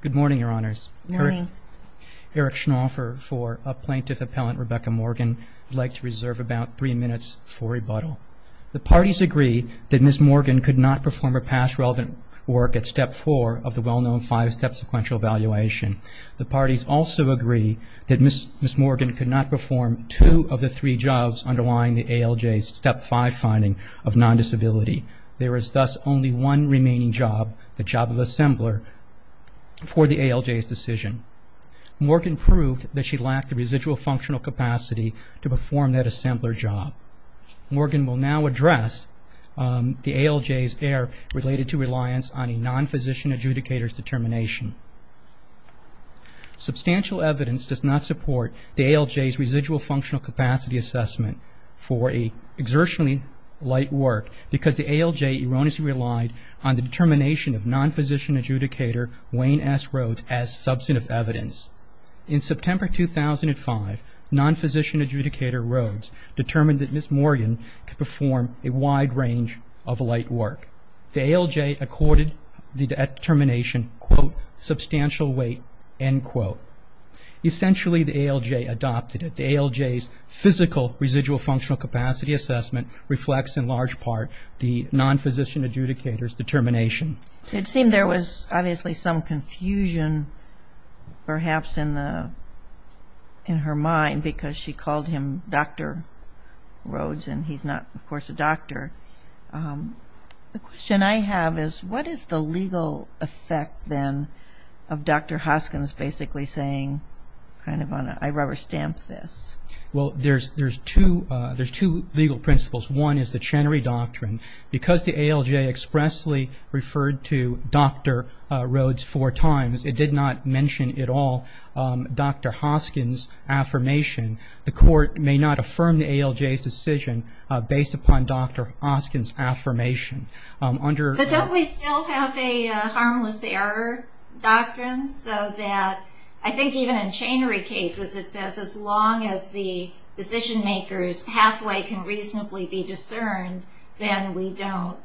Good morning, Your Honours. Good morning. Eric Schnaufer for a plaintiff appellant, Rebecca Morgan. I'd like to reserve about three minutes for rebuttal. The parties agree that Ms. Morgan could not perform her past relevant work at Step 4 of the well-known five-step sequential evaluation. The parties also agree that Ms. Morgan could not perform two of the three jobs underlying the ALJ's Step 5 finding of non-disability. There is thus only one remaining job, the job of assembler, for the ALJ's decision. Morgan proved that she lacked the residual functional capacity to perform that assembler job. Morgan will now address the ALJ's error related to reliance on a non-physician adjudicator's determination. Substantial evidence does not support the ALJ's residual functional capacity assessment for an exertionally light work because the ALJ erroneously relied on the determination of non-physician adjudicator, Wayne S. Rhodes, as substantive evidence. In September 2005, non-physician adjudicator Rhodes determined that Ms. Morgan could perform a wide range of light work. The ALJ accorded the determination, quote, substantial weight, end quote. Essentially, the ALJ adopted it. The ALJ's physical residual functional capacity assessment reflects in large part the non-physician adjudicator's determination. It seemed there was obviously some confusion perhaps in her mind because she called him Dr. Rhodes and he's not, of course, a doctor. The question I have is what is the legal effect, then, of Dr. Hoskins basically saying kind of on a rubber stamp this? Well, there's two legal principles. One is the Chenery Doctrine. Because the ALJ expressly referred to Dr. Rhodes four times, it did not mention at all Dr. Hoskins' affirmation. The court may not affirm the ALJ's decision based upon Dr. Hoskins' affirmation. But don't we still have a harmless error doctrine so that I think even in Chenery cases, it says as long as the decision-maker's pathway can reasonably be discerned, then we don't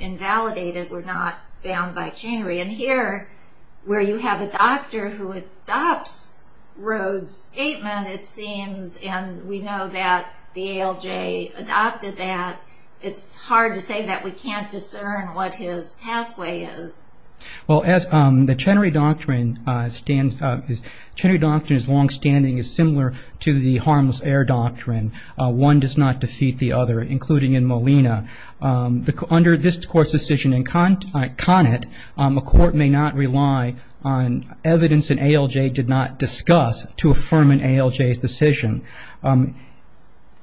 invalidate it. We're not bound by Chenery. And here, where you have a doctor who adopts Rhodes' statement, it seems, and we know that the ALJ adopted that, it's hard to say that we can't discern what his pathway is. Well, as the Chenery Doctrine is longstanding is similar to the harmless error doctrine. One does not defeat the other, including in Molina. Under this court's decision in Conant, a court may not rely on evidence an ALJ did not discuss to affirm an ALJ's decision.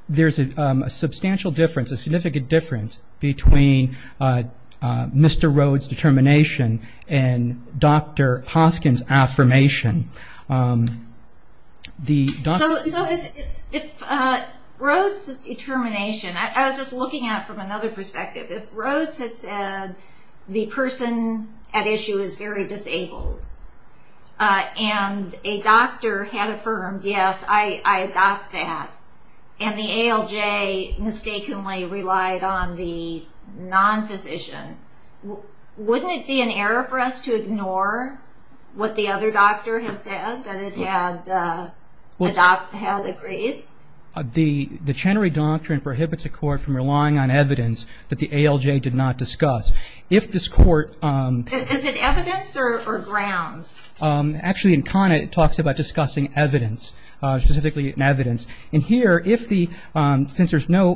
There's a substantial difference, a significant difference, between Mr. Rhodes' determination and Dr. Hoskins' affirmation. So if Rhodes' determination, I was just looking at it from another perspective, if Rhodes had said the person at issue is very disabled, and a doctor had affirmed, yes, I adopt that, and the ALJ mistakenly relied on the non-physician, wouldn't it be an error for us to ignore what the other doctor had said, that it had agreed? The Chenery Doctrine prohibits a court from relying on evidence that the ALJ did not discuss. If this court... Is it evidence or grounds? Actually, in Conant, it talks about discussing evidence, specifically in evidence. And here, since there's no,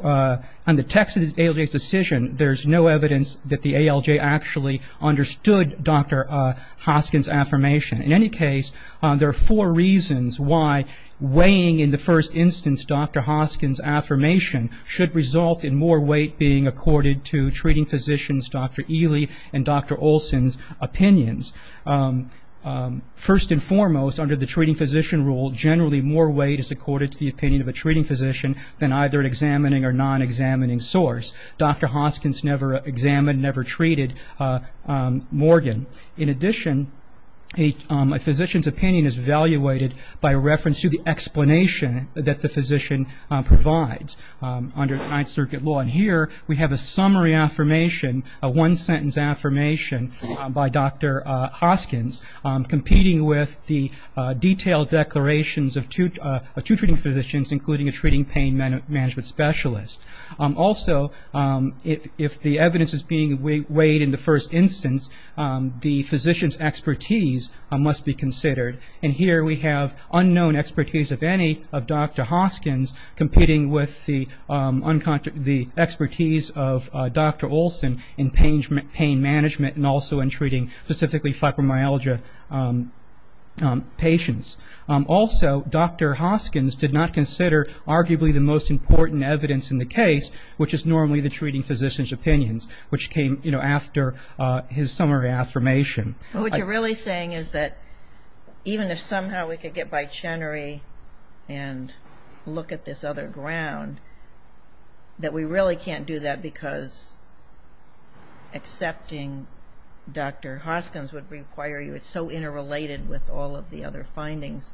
on the text of the ALJ's decision, there's no evidence that the ALJ actually understood Dr. Hoskins' affirmation. In any case, there are four reasons why weighing, in the first instance, Dr. Hoskins' affirmation should result in more weight being accorded to treating physicians, Dr. Ely and Dr. Olson's opinions. First and foremost, under the treating physician rule, generally more weight is accorded to the opinion of a treating physician than either an examining or non-examining source. Dr. Hoskins never examined, never treated Morgan. In addition, a physician's opinion is evaluated by reference to the explanation that the physician provides under the Ninth Circuit law. And here, we have a summary affirmation, a one-sentence affirmation by Dr. Hoskins, competing with the detailed declarations of two treating physicians, including a treating pain management specialist. Also, if the evidence is being weighed in the first instance, the physician's expertise must be considered. And here, we have unknown expertise of any of Dr. Hoskins competing with the expertise of Dr. Olson in pain management and also in treating specifically fibromyalgia patients. Also, Dr. Hoskins did not consider arguably the most important evidence in the case, which is normally the treating physician's opinions, which came, you know, after his summary affirmation. What you're really saying is that even if somehow we could get by Chenery and look at this other ground, that we really can't do that because accepting Dr. Hoskins would require you. It's so interrelated with all of the other findings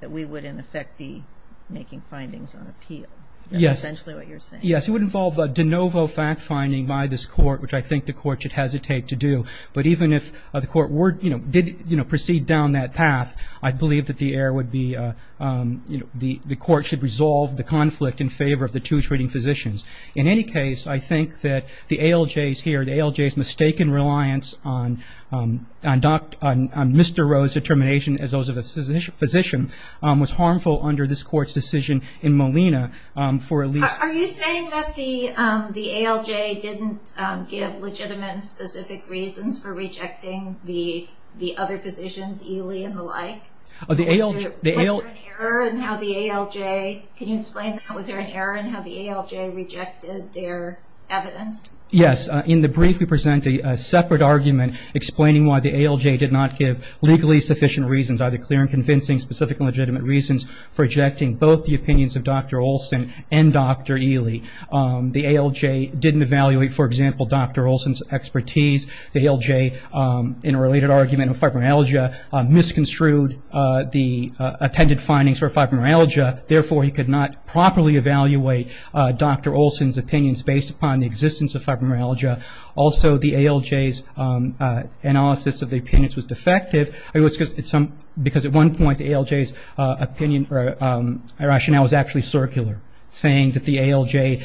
that we would, in effect, be making findings on appeal. That's essentially what you're saying. Yes. It would involve a de novo fact finding by this Court, which I think the Court should hesitate to do. But even if the Court, you know, did proceed down that path, I believe that the error would be, you know, the Court should resolve the conflict in favor of the two treating physicians. In any case, I think that the ALJ's here, the ALJ's mistaken reliance on Mr. Rowe's determination, as those of a physician, was harmful under this Court's decision in Molina for at least- Are you saying that the ALJ didn't give legitimate, specific reasons for rejecting the other physicians, Ely and the like? Was there an error in how the ALJ- Yes. In the brief, we present a separate argument explaining why the ALJ did not give legally sufficient reasons, either clear and convincing, specific and legitimate reasons for rejecting both the opinions of Dr. Olson and Dr. Ely. The ALJ didn't evaluate, for example, Dr. Olson's expertise. The ALJ, in a related argument of fibromyalgia, misconstrued the attended findings for fibromyalgia. Therefore, he could not properly evaluate Dr. Olson's opinions based upon the existence of fibromyalgia. Also, the ALJ's analysis of the opinions was defective, because at one point, the ALJ's opinion or rationale was actually circular, saying that the ALJ-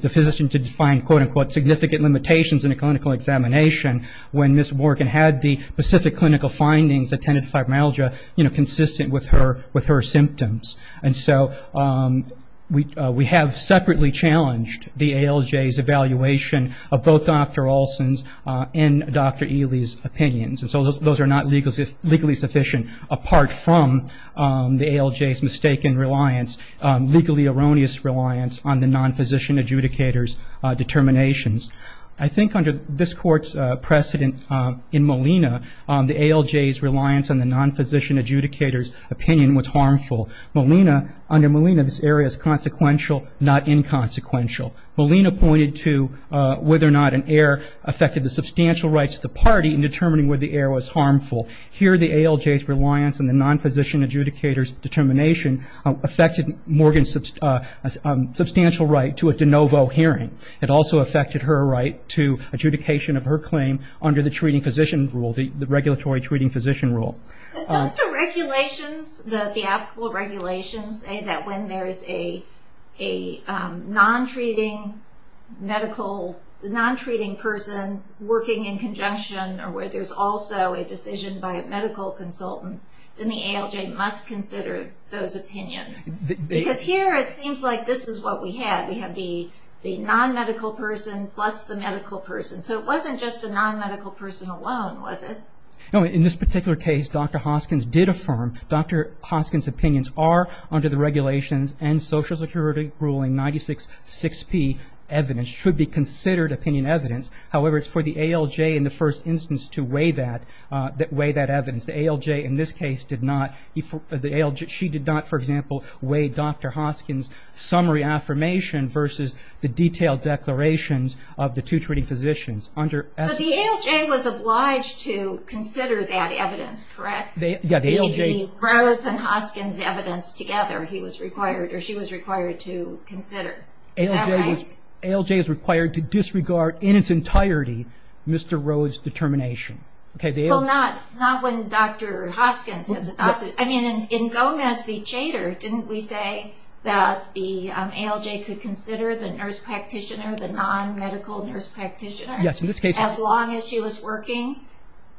the physician did find, quote, unquote, significant limitations in a clinical examination when Ms. Morgan had the specific clinical findings that tended to fibromyalgia consistent with her symptoms. And so we have separately challenged the ALJ's evaluation of both Dr. Olson's and Dr. Ely's opinions. And so those are not legally sufficient, apart from the ALJ's mistaken reliance, legally erroneous reliance on the non-physician adjudicator's determinations. I think under this Court's precedent in Molina, the ALJ's reliance on the non-physician adjudicator's opinion was harmful. Molina, under Molina, this area is consequential, not inconsequential. Molina pointed to whether or not an error affected the substantial rights of the party in determining whether the error was harmful. Here, the ALJ's reliance on the non-physician adjudicator's determination affected Morgan's substantial right to a de novo hearing. It also affected her right to adjudication of her claim under the treating physician rule, the regulatory treating physician rule. But don't the regulations, the applicable regulations, say that when there is a non-treating person working in conjunction or where there's also a decision by a medical consultant, then the ALJ must consider those opinions. Because here it seems like this is what we had. We had the non-medical person plus the medical person. So it wasn't just the non-medical person alone, was it? No, in this particular case, Dr. Hoskins did affirm Dr. Hoskins' opinions are under the regulations and Social Security ruling 96-6P evidence, should be considered opinion evidence. However, it's for the ALJ in the first instance to weigh that evidence. The ALJ in this case did not. She did not, for example, weigh Dr. Hoskins' summary affirmation versus the detailed declarations of the two treating physicians. But the ALJ was obliged to consider that evidence, correct? The Rhodes and Hoskins evidence together he was required or she was required to consider. Is that right? ALJ is required to disregard in its entirety Mr. Rhodes' determination. Well, not when Dr. Hoskins is a doctor. I mean, in Gomez v. Chater, didn't we say that the ALJ could consider the nurse practitioner, the non-medical nurse practitioner, as long as she was working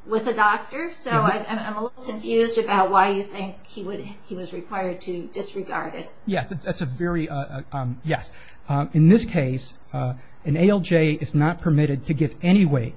with a doctor? So I'm a little confused about why you think he was required to disregard it. Yes, that's a very, yes. In this case, an ALJ is not permitted to give any weight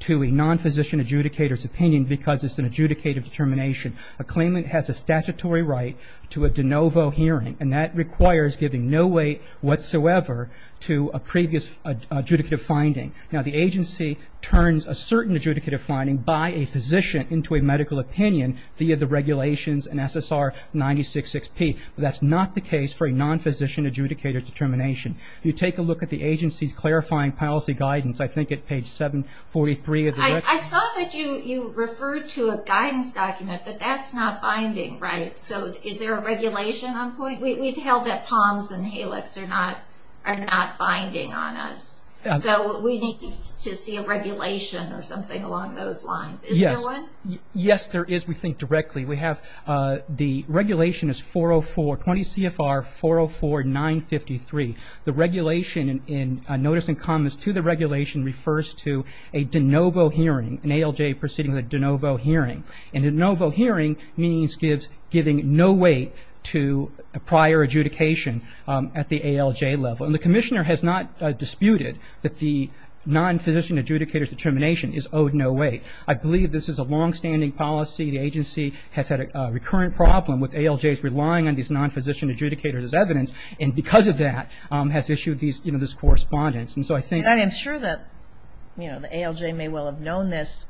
to a non-physician adjudicator's opinion because it's an adjudicative determination. A claimant has a statutory right to a de novo hearing, and that requires giving no weight whatsoever to a previous adjudicative finding. Now, the agency turns a certain adjudicative finding by a physician into a medical opinion via the regulations in SSR 966P. That's not the case for a non-physician adjudicator determination. You take a look at the agency's clarifying policy guidance, I think at page 743. I saw that you referred to a guidance document, but that's not binding, right? So is there a regulation on point? We've held that Palms and Halix are not binding on us. So we need to see a regulation or something along those lines. Is there one? Yes, there is, we think, directly. We have the regulation is 404, 20 CFR 404-953. The regulation in notice and comments to the regulation refers to a de novo hearing, an ALJ proceeding with a de novo hearing. And a de novo hearing means giving no weight to a prior adjudication at the ALJ level. And the commissioner has not disputed that the non-physician adjudicator determination is owed no weight. I believe this is a longstanding policy. The agency has had a recurrent problem with ALJs relying on these non-physician adjudicators as evidence. And because of that, has issued this correspondence. I'm sure that the ALJ may well have known this,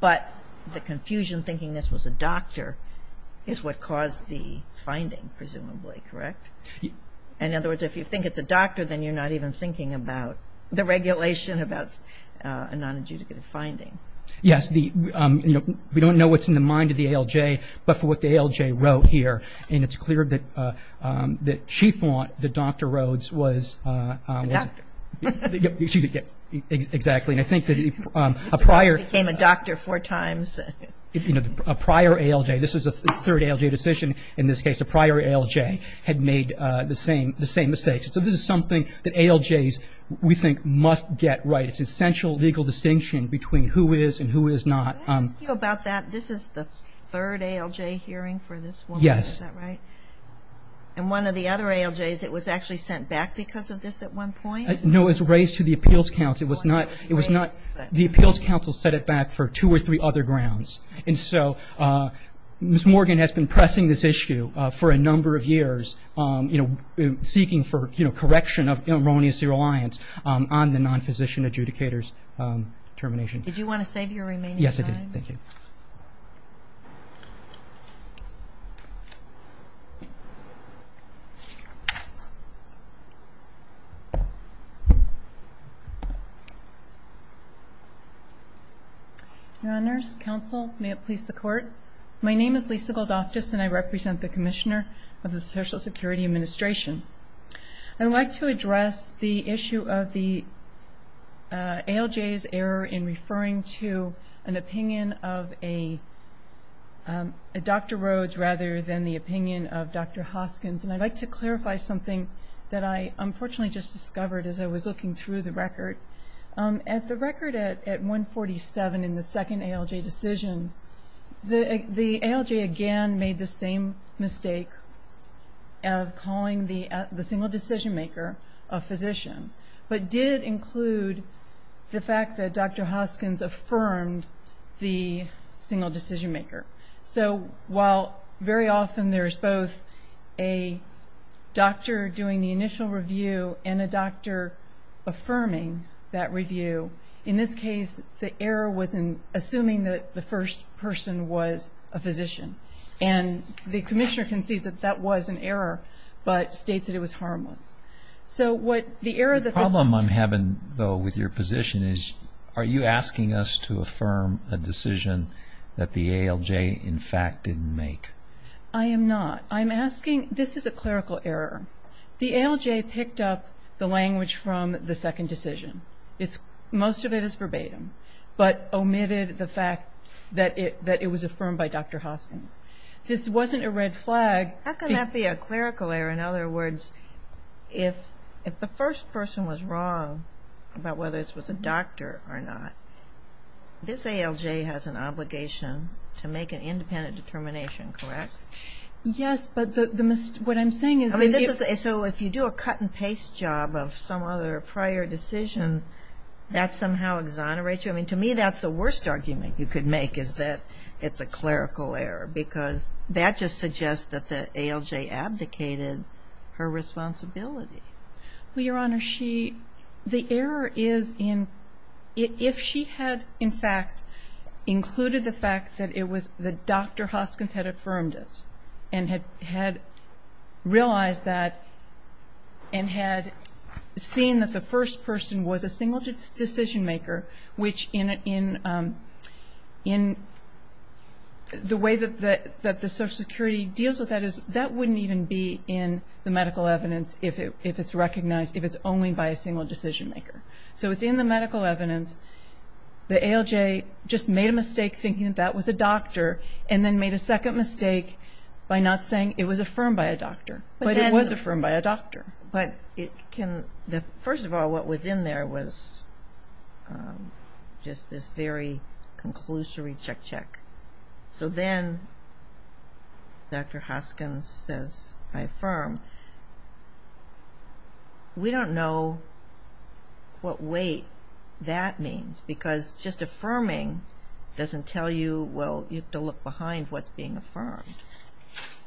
but the confusion thinking this was a doctor is what caused the finding, presumably, correct? In other words, if you think it's a doctor, then you're not even thinking about the regulation about a non-adjudicative finding. Yes. We don't know what's in the mind of the ALJ, but for what the ALJ wrote here, and it's clear that she thought that Dr. Rhodes was a doctor. Exactly. And I think that a prior ALJ, this was a third ALJ decision in this case, a prior ALJ had made the same mistakes. So this is something that ALJs, we think, must get right. It's essential legal distinction between who is and who is not. Can I ask you about that? This is the third ALJ hearing for this woman. Yes. Is that right? And one of the other ALJs, it was actually sent back because of this at one point? No, it was raised to the Appeals Council. It was not the Appeals Council set it back for two or three other grounds. And so Ms. Morgan has been pressing this issue for a number of years, seeking for correction of erroneous reliance on the non-physician adjudicator's termination. Did you want to save your remaining time? Yes, I did. Thank you. Your Honors, Counsel, may it please the Court. My name is Lisa Goldoftus, and I represent the Commissioner of the Social Security Administration. I'd like to address the issue of the ALJ's error in referring to an opinion of a Dr. Rhodes rather than the opinion of Dr. Hoskins. And I'd like to clarify something that I unfortunately just discovered as I was looking through the record. At the record at 147 in the second ALJ decision, the ALJ again made the same mistake of calling the single decision-maker a physician, but did include the fact that Dr. Hoskins affirmed the single decision-maker. So while very often there's both a doctor doing the initial review and a doctor affirming that review, in this case the error was in assuming that the first person was a physician. And the Commissioner concedes that that was an error, but states that it was harmless. The problem I'm having, though, with your position is, are you asking us to affirm a decision that the ALJ in fact didn't make? I am not. I'm asking, this is a clerical error. The ALJ picked up the language from the second decision. Most of it is verbatim, but omitted the fact that it was affirmed by Dr. Hoskins. This wasn't a red flag. How can that be a clerical error? In other words, if the first person was wrong about whether this was a doctor or not, this ALJ has an obligation to make an independent determination, correct? Yes, but what I'm saying is that you do a cut-and-paste job of some other prior decision, that somehow exonerates you? I mean, to me that's the worst argument you could make, is that it's a clerical error, because that just suggests that the ALJ abdicated her responsibility. Well, Your Honor, the error is in, if she had in fact included the fact that Dr. Hoskins had affirmed it and had realized that and had seen that the first person was a single decision maker, which in the way that the Social Security deals with that is that wouldn't even be in the medical evidence if it's recognized, if it's only by a single decision maker. So it's in the medical evidence. The ALJ just made a mistake thinking that that was a doctor and then made a second mistake by not saying it was affirmed by a doctor, but it was affirmed by a doctor. First of all, what was in there was just this very conclusory check-check. So then Dr. Hoskins says, I affirm. We don't know what weight that means, because just affirming doesn't tell you, well, you have to look behind what's being affirmed.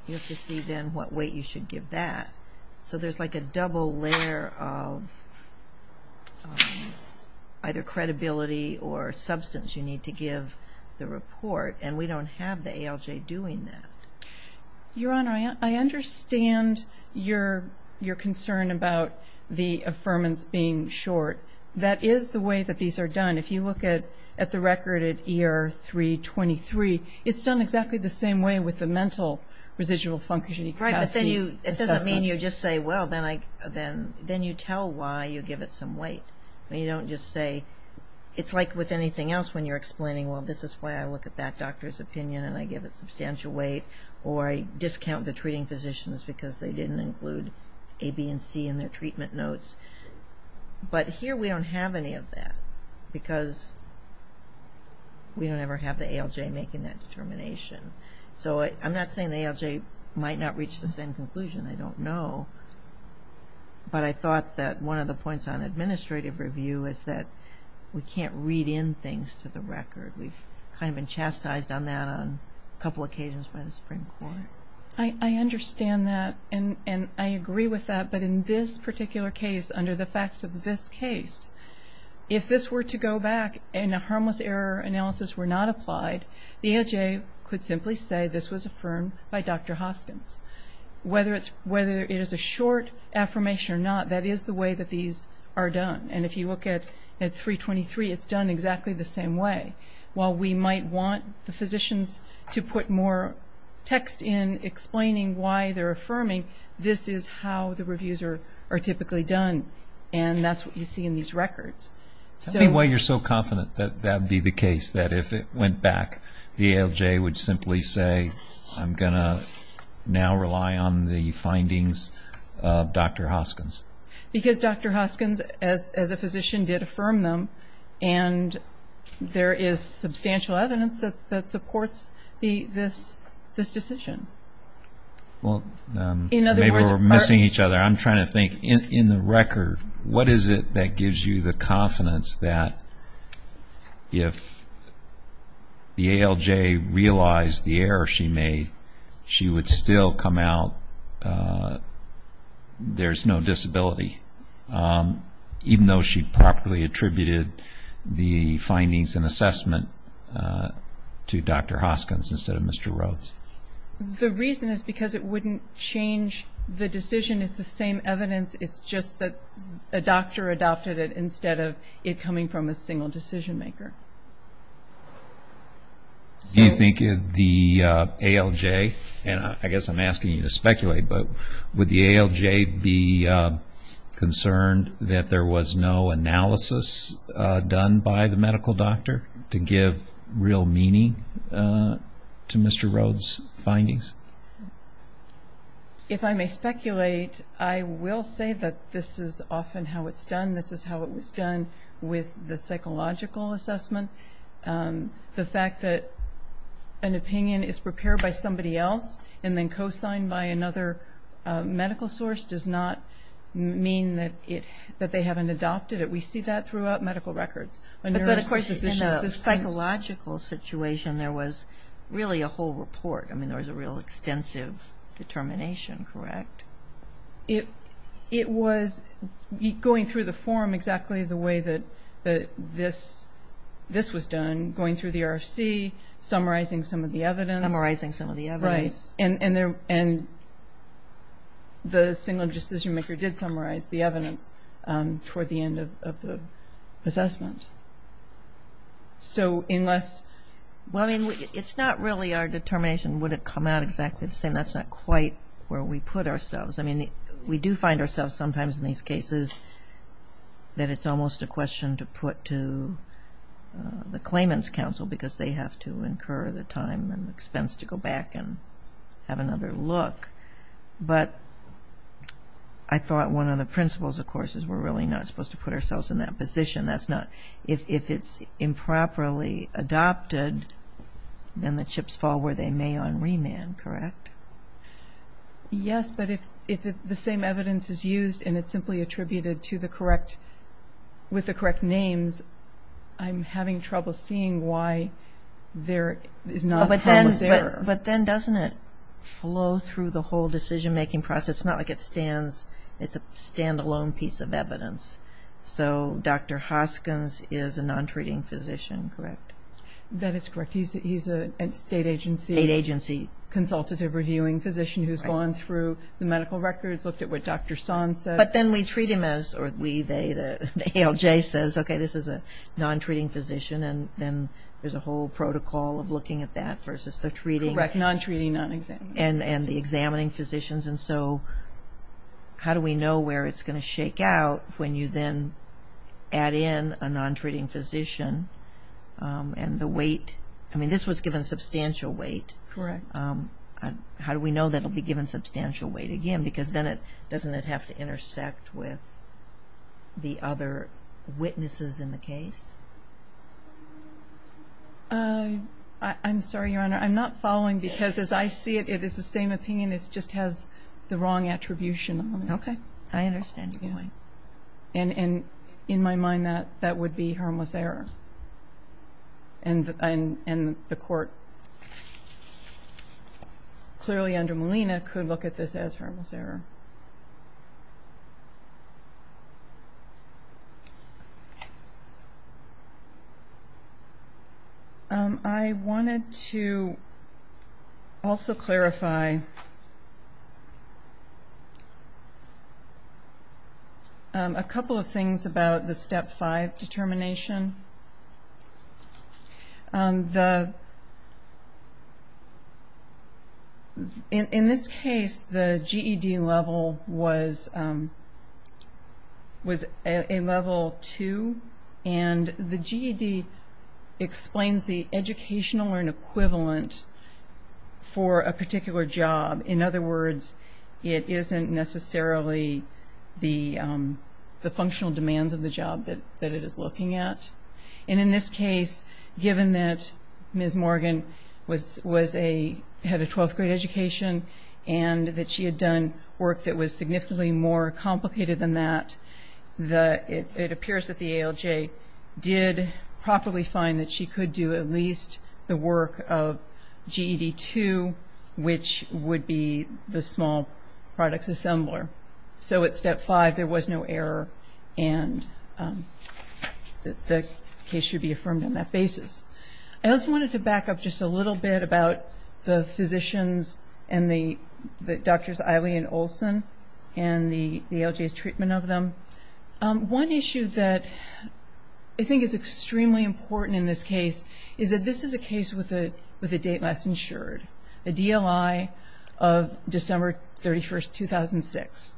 You have to see then what weight you should give that. So there's like a double layer of either credibility or substance you need to give the report, and we don't have the ALJ doing that. Your Honor, I understand your concern about the affirmance being short. That is the way that these are done. If you look at the record at ER 323, it's done exactly the same way with the mental residual function. It doesn't mean you just say, well, then you tell why you give it some weight. You don't just say, it's like with anything else, when you're explaining, well, this is why I look at that doctor's opinion and I give it substantial weight, or I discount the treating physicians because they didn't include A, B, and C in their treatment notes. But here we don't have any of that, because we don't ever have the ALJ making that determination. So I'm not saying the ALJ might not reach the same conclusion. I don't know. But I thought that one of the points on administrative review is that we can't read in things to the record. We've kind of been chastised on that on a couple occasions by the Supreme Court. I understand that, and I agree with that. But in this particular case, under the facts of this case, if this were to go back and a harmless error analysis were not applied, the ALJ could simply say this was affirmed by Dr. Hoskins. Whether it is a short affirmation or not, that is the way that these are done. And if you look at 323, it's done exactly the same way. While we might want the physicians to put more text in explaining why they're affirming, this is how the reviews are typically done, and that's what you see in these records. I think why you're so confident that that would be the case, that if it went back, the ALJ would simply say, I'm going to now rely on the findings of Dr. Hoskins. Because Dr. Hoskins, as a physician, did affirm them, and there is substantial evidence that supports this decision. Well, maybe we're missing each other. I'm trying to think. In the record, what is it that gives you the confidence that if the ALJ realized the error she made, she would still come out, there's no disability, even though she properly attributed the findings and assessment to Dr. Hoskins instead of Mr. Rhodes? The reason is because it wouldn't change the decision. It's the same evidence. It's just that a doctor adopted it instead of it coming from a single decision maker. Do you think the ALJ, and I guess I'm asking you to speculate, but would the ALJ be concerned that there was no analysis done by the medical doctor to give real meaning to Mr. Rhodes' findings? If I may speculate, I will say that this is often how it's done. This is how it was done with the psychological assessment. The fact that an opinion is prepared by somebody else and then co-signed by another medical source does not mean that they haven't adopted it. We see that throughout medical records. But, of course, in a psychological situation, there was really a whole report. I mean, there was a real extensive determination, correct? It was going through the form exactly the way that this was done, going through the RFC, summarizing some of the evidence. Summarizing some of the evidence. Right. And the single decision maker did summarize the evidence toward the end of the assessment. So unless... Well, I mean, it's not really our determination. Would it come out exactly the same? That's not quite where we put ourselves. I mean, we do find ourselves sometimes in these cases that it's almost a question to put to the claimant's counsel because they have to incur the time and expense to go back and have another look. But I thought one of the principles, of course, is we're really not supposed to put ourselves in that position. If it's improperly adopted, then the chips fall where they may on remand, correct? Yes, but if the same evidence is used and it's simply attributed with the correct names, then I'm having trouble seeing why there is not... But then doesn't it flow through the whole decision-making process? It's not like it's a stand-alone piece of evidence. So Dr. Hoskins is a non-treating physician, correct? That is correct. He's a state agency... State agency. ...consultative reviewing physician who's gone through the medical records, looked at what Dr. Son said. But then we treat him as, or we, they, the ALJ says, okay, this is a non-treating physician, and then there's a whole protocol of looking at that versus the treating. Correct, non-treating, non-examining. And the examining physicians. And so how do we know where it's going to shake out when you then add in a non-treating physician and the weight? I mean, this was given substantial weight. Correct. How do we know that it will be given substantial weight again? Because then it, doesn't it have to intersect with the other witnesses in the case? I'm sorry, Your Honor. I'm not following because as I see it, it is the same opinion. It just has the wrong attribution on it. Okay. I understand your point. And in my mind, that would be harmless error. And the court, clearly under Molina, could look at this as harmless error. Thank you. I wanted to also clarify a couple of things about the Step 5 determination. In this case, the GED level was a level 2, and the GED explains the educational equivalent for a particular job. In other words, it isn't necessarily the functional demands of the job that it is looking at. And in this case, given that Ms. Morgan had a 12th grade education and that she had done work that was significantly more complicated than that, it appears that the ALJ did properly find that she could do at least the work of GED 2, which would be the small products assembler. So at Step 5, there was no error, and the case should be affirmed on that basis. I also wanted to back up just a little bit about the physicians and the doctors, Eileen Olson and the ALJ's treatment of them. One issue that I think is extremely important in this case is that this is a case with a date less insured. The DLI of December 31, 2006.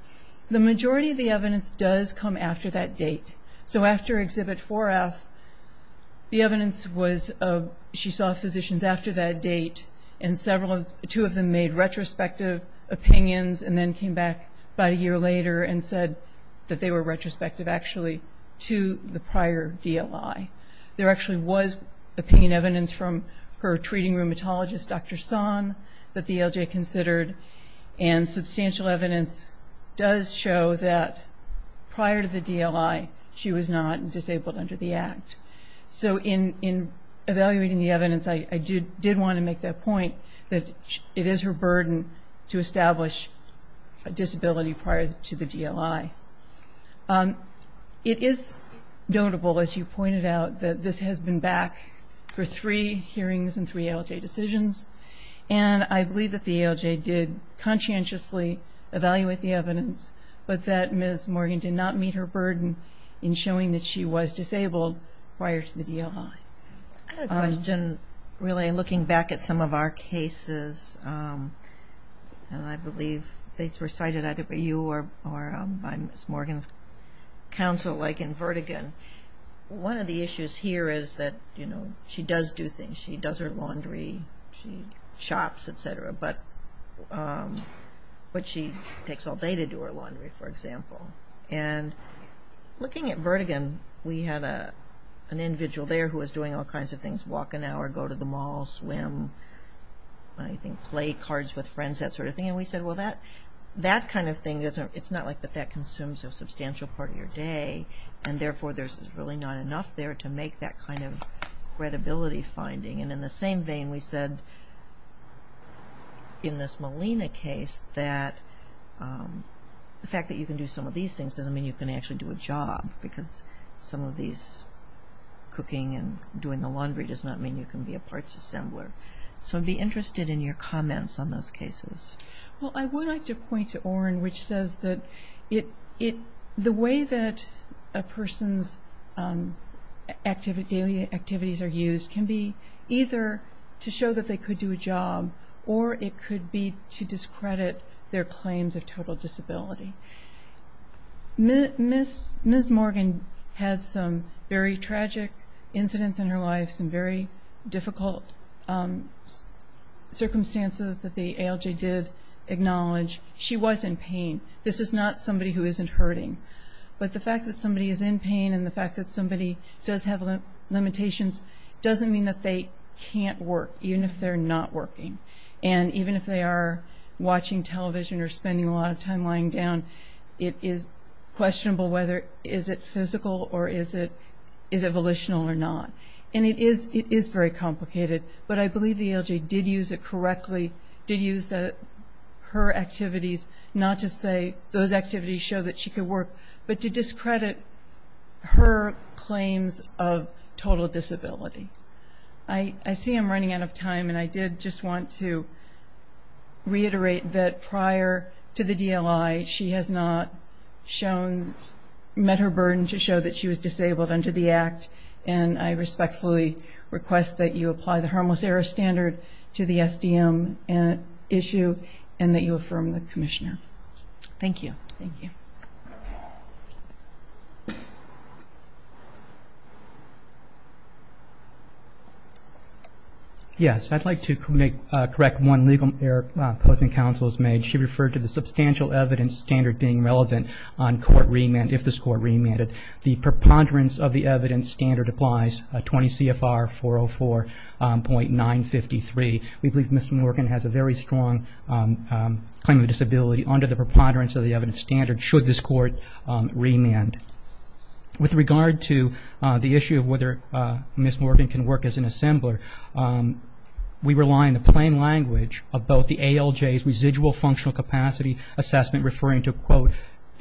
The majority of the evidence does come after that date. So after Exhibit 4F, the evidence was she saw physicians after that date, and two of them made retrospective opinions and then came back about a year later and said that they were retrospective actually to the prior DLI. There actually was opinion evidence from her treating rheumatologist, Dr. Son, that the ALJ considered, and substantial evidence does show that prior to the DLI, she was not disabled under the Act. So in evaluating the evidence, I did want to make that point, that it is her burden to establish a disability prior to the DLI. It is notable, as you pointed out, that this has been back for three hearings and three ALJ decisions, and I believe that the ALJ did conscientiously evaluate the evidence, but that Ms. Morgan did not meet her burden in showing that she was disabled prior to the DLI. I had a question, really looking back at some of our cases, and I believe these were cited either by you or by Ms. Morgan's counsel, like in Vertigon. One of the issues here is that she does do things. She does her laundry, she shops, et cetera, but she takes all day to do her laundry, for example. Looking at Vertigon, we had an individual there who was doing all kinds of things, walk an hour, go to the mall, swim, play cards with friends, that sort of thing. And we said, well, that kind of thing, it's not like that consumes a substantial part of your day, and therefore there's really not enough there to make that kind of credibility finding. And in the same vein, we said in this Molina case that the fact that you can do some of these things doesn't mean you can actually do a job, because some of these cooking and doing the laundry does not mean you can be a parts assembler. So I'd be interested in your comments on those cases. Well, I would like to point to Orrin, which says that the way that a person's daily activities are used can be either to show that they could do a job, or it could be to discredit their claims of total disability. Ms. Morgan had some very tragic incidents in her life, some very difficult circumstances that the ALJ did acknowledge. She was in pain. This is not somebody who isn't hurting. But the fact that somebody is in pain and the fact that somebody does have limitations doesn't mean that they can't work, even if they're not working. And even if they are watching television or spending a lot of time lying down, it is questionable whether is it physical or is it volitional or not. And it is very complicated, but I believe the ALJ did use it correctly, did use her activities, not to say those activities show that she could work, but to discredit her claims of total disability. I see I'm running out of time, and I did just want to reiterate that prior to the DLI, she has not met her burden to show that she was disabled under the Act, and I respectfully request that you apply the Harmless Error Standard to the SDM issue and that you affirm the Commissioner. Thank you. Thank you. Yes, I'd like to correct one legal error opposing counsel has made. She referred to the substantial evidence standard being relevant on court remand, if this court remanded. The preponderance of the evidence standard applies, 20 CFR 404.953. We believe Ms. Morgan has a very strong claim of disability under the preponderance of the evidence standard should this court remand. With regard to the issue of whether Ms. Morgan can work as an assembler, we rely on the plain language of both the ALJ's residual functional capacity assessment, referring to, quote,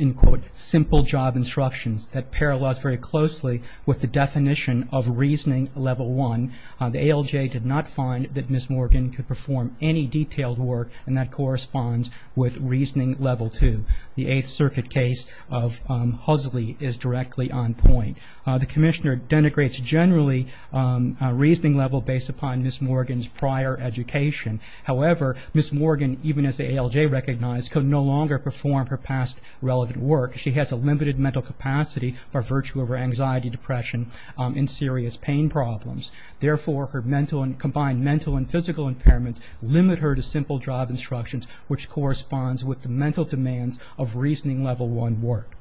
unquote, simple job instructions that parallels very closely with the definition of reasoning level one. The ALJ did not find that Ms. Morgan could perform any detailed work, and that corresponds with reasoning level two. The Eighth Circuit case of Huxley is directly on point. The Commissioner denigrates generally a reasoning level based upon Ms. Morgan's prior education. However, Ms. Morgan, even as the ALJ recognized, could no longer perform her past relevant work. She has a limited mental capacity by virtue of her anxiety, depression, and serious pain problems. Therefore, combined mental and physical impairment limit her to simple job instructions, which corresponds with the mental demands of reasoning level one work.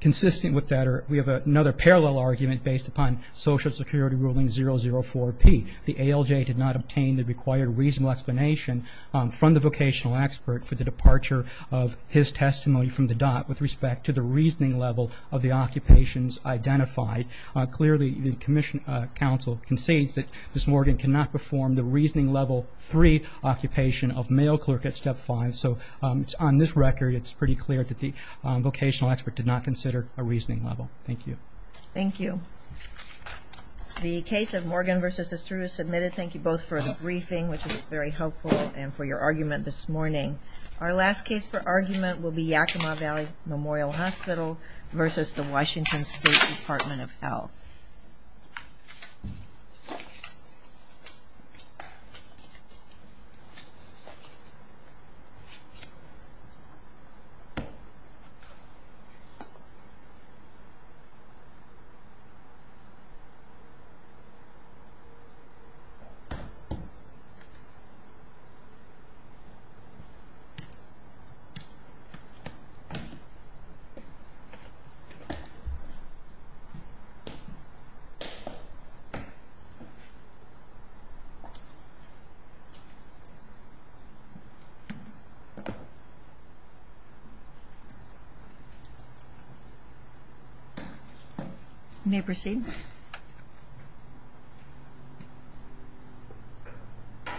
Consistent with that, we have another parallel argument based upon Social Security Ruling 004-P. The ALJ did not obtain the required reasonable explanation from the vocational expert for the departure of his testimony from the DOT with respect to the reasoning level of the occupations identified. Clearly, the Commission Council concedes that Ms. Morgan cannot perform the reasoning level three occupation of mail clerk at step five. So on this record, it's pretty clear that the vocational expert did not consider a reasoning level. Thank you. Thank you. I'd like to thank you both for the briefing, which was very helpful, and for your argument this morning. Our last case for argument will be Yakima Valley Memorial Hospital versus the Washington State Department of Health. You may proceed. Thank you.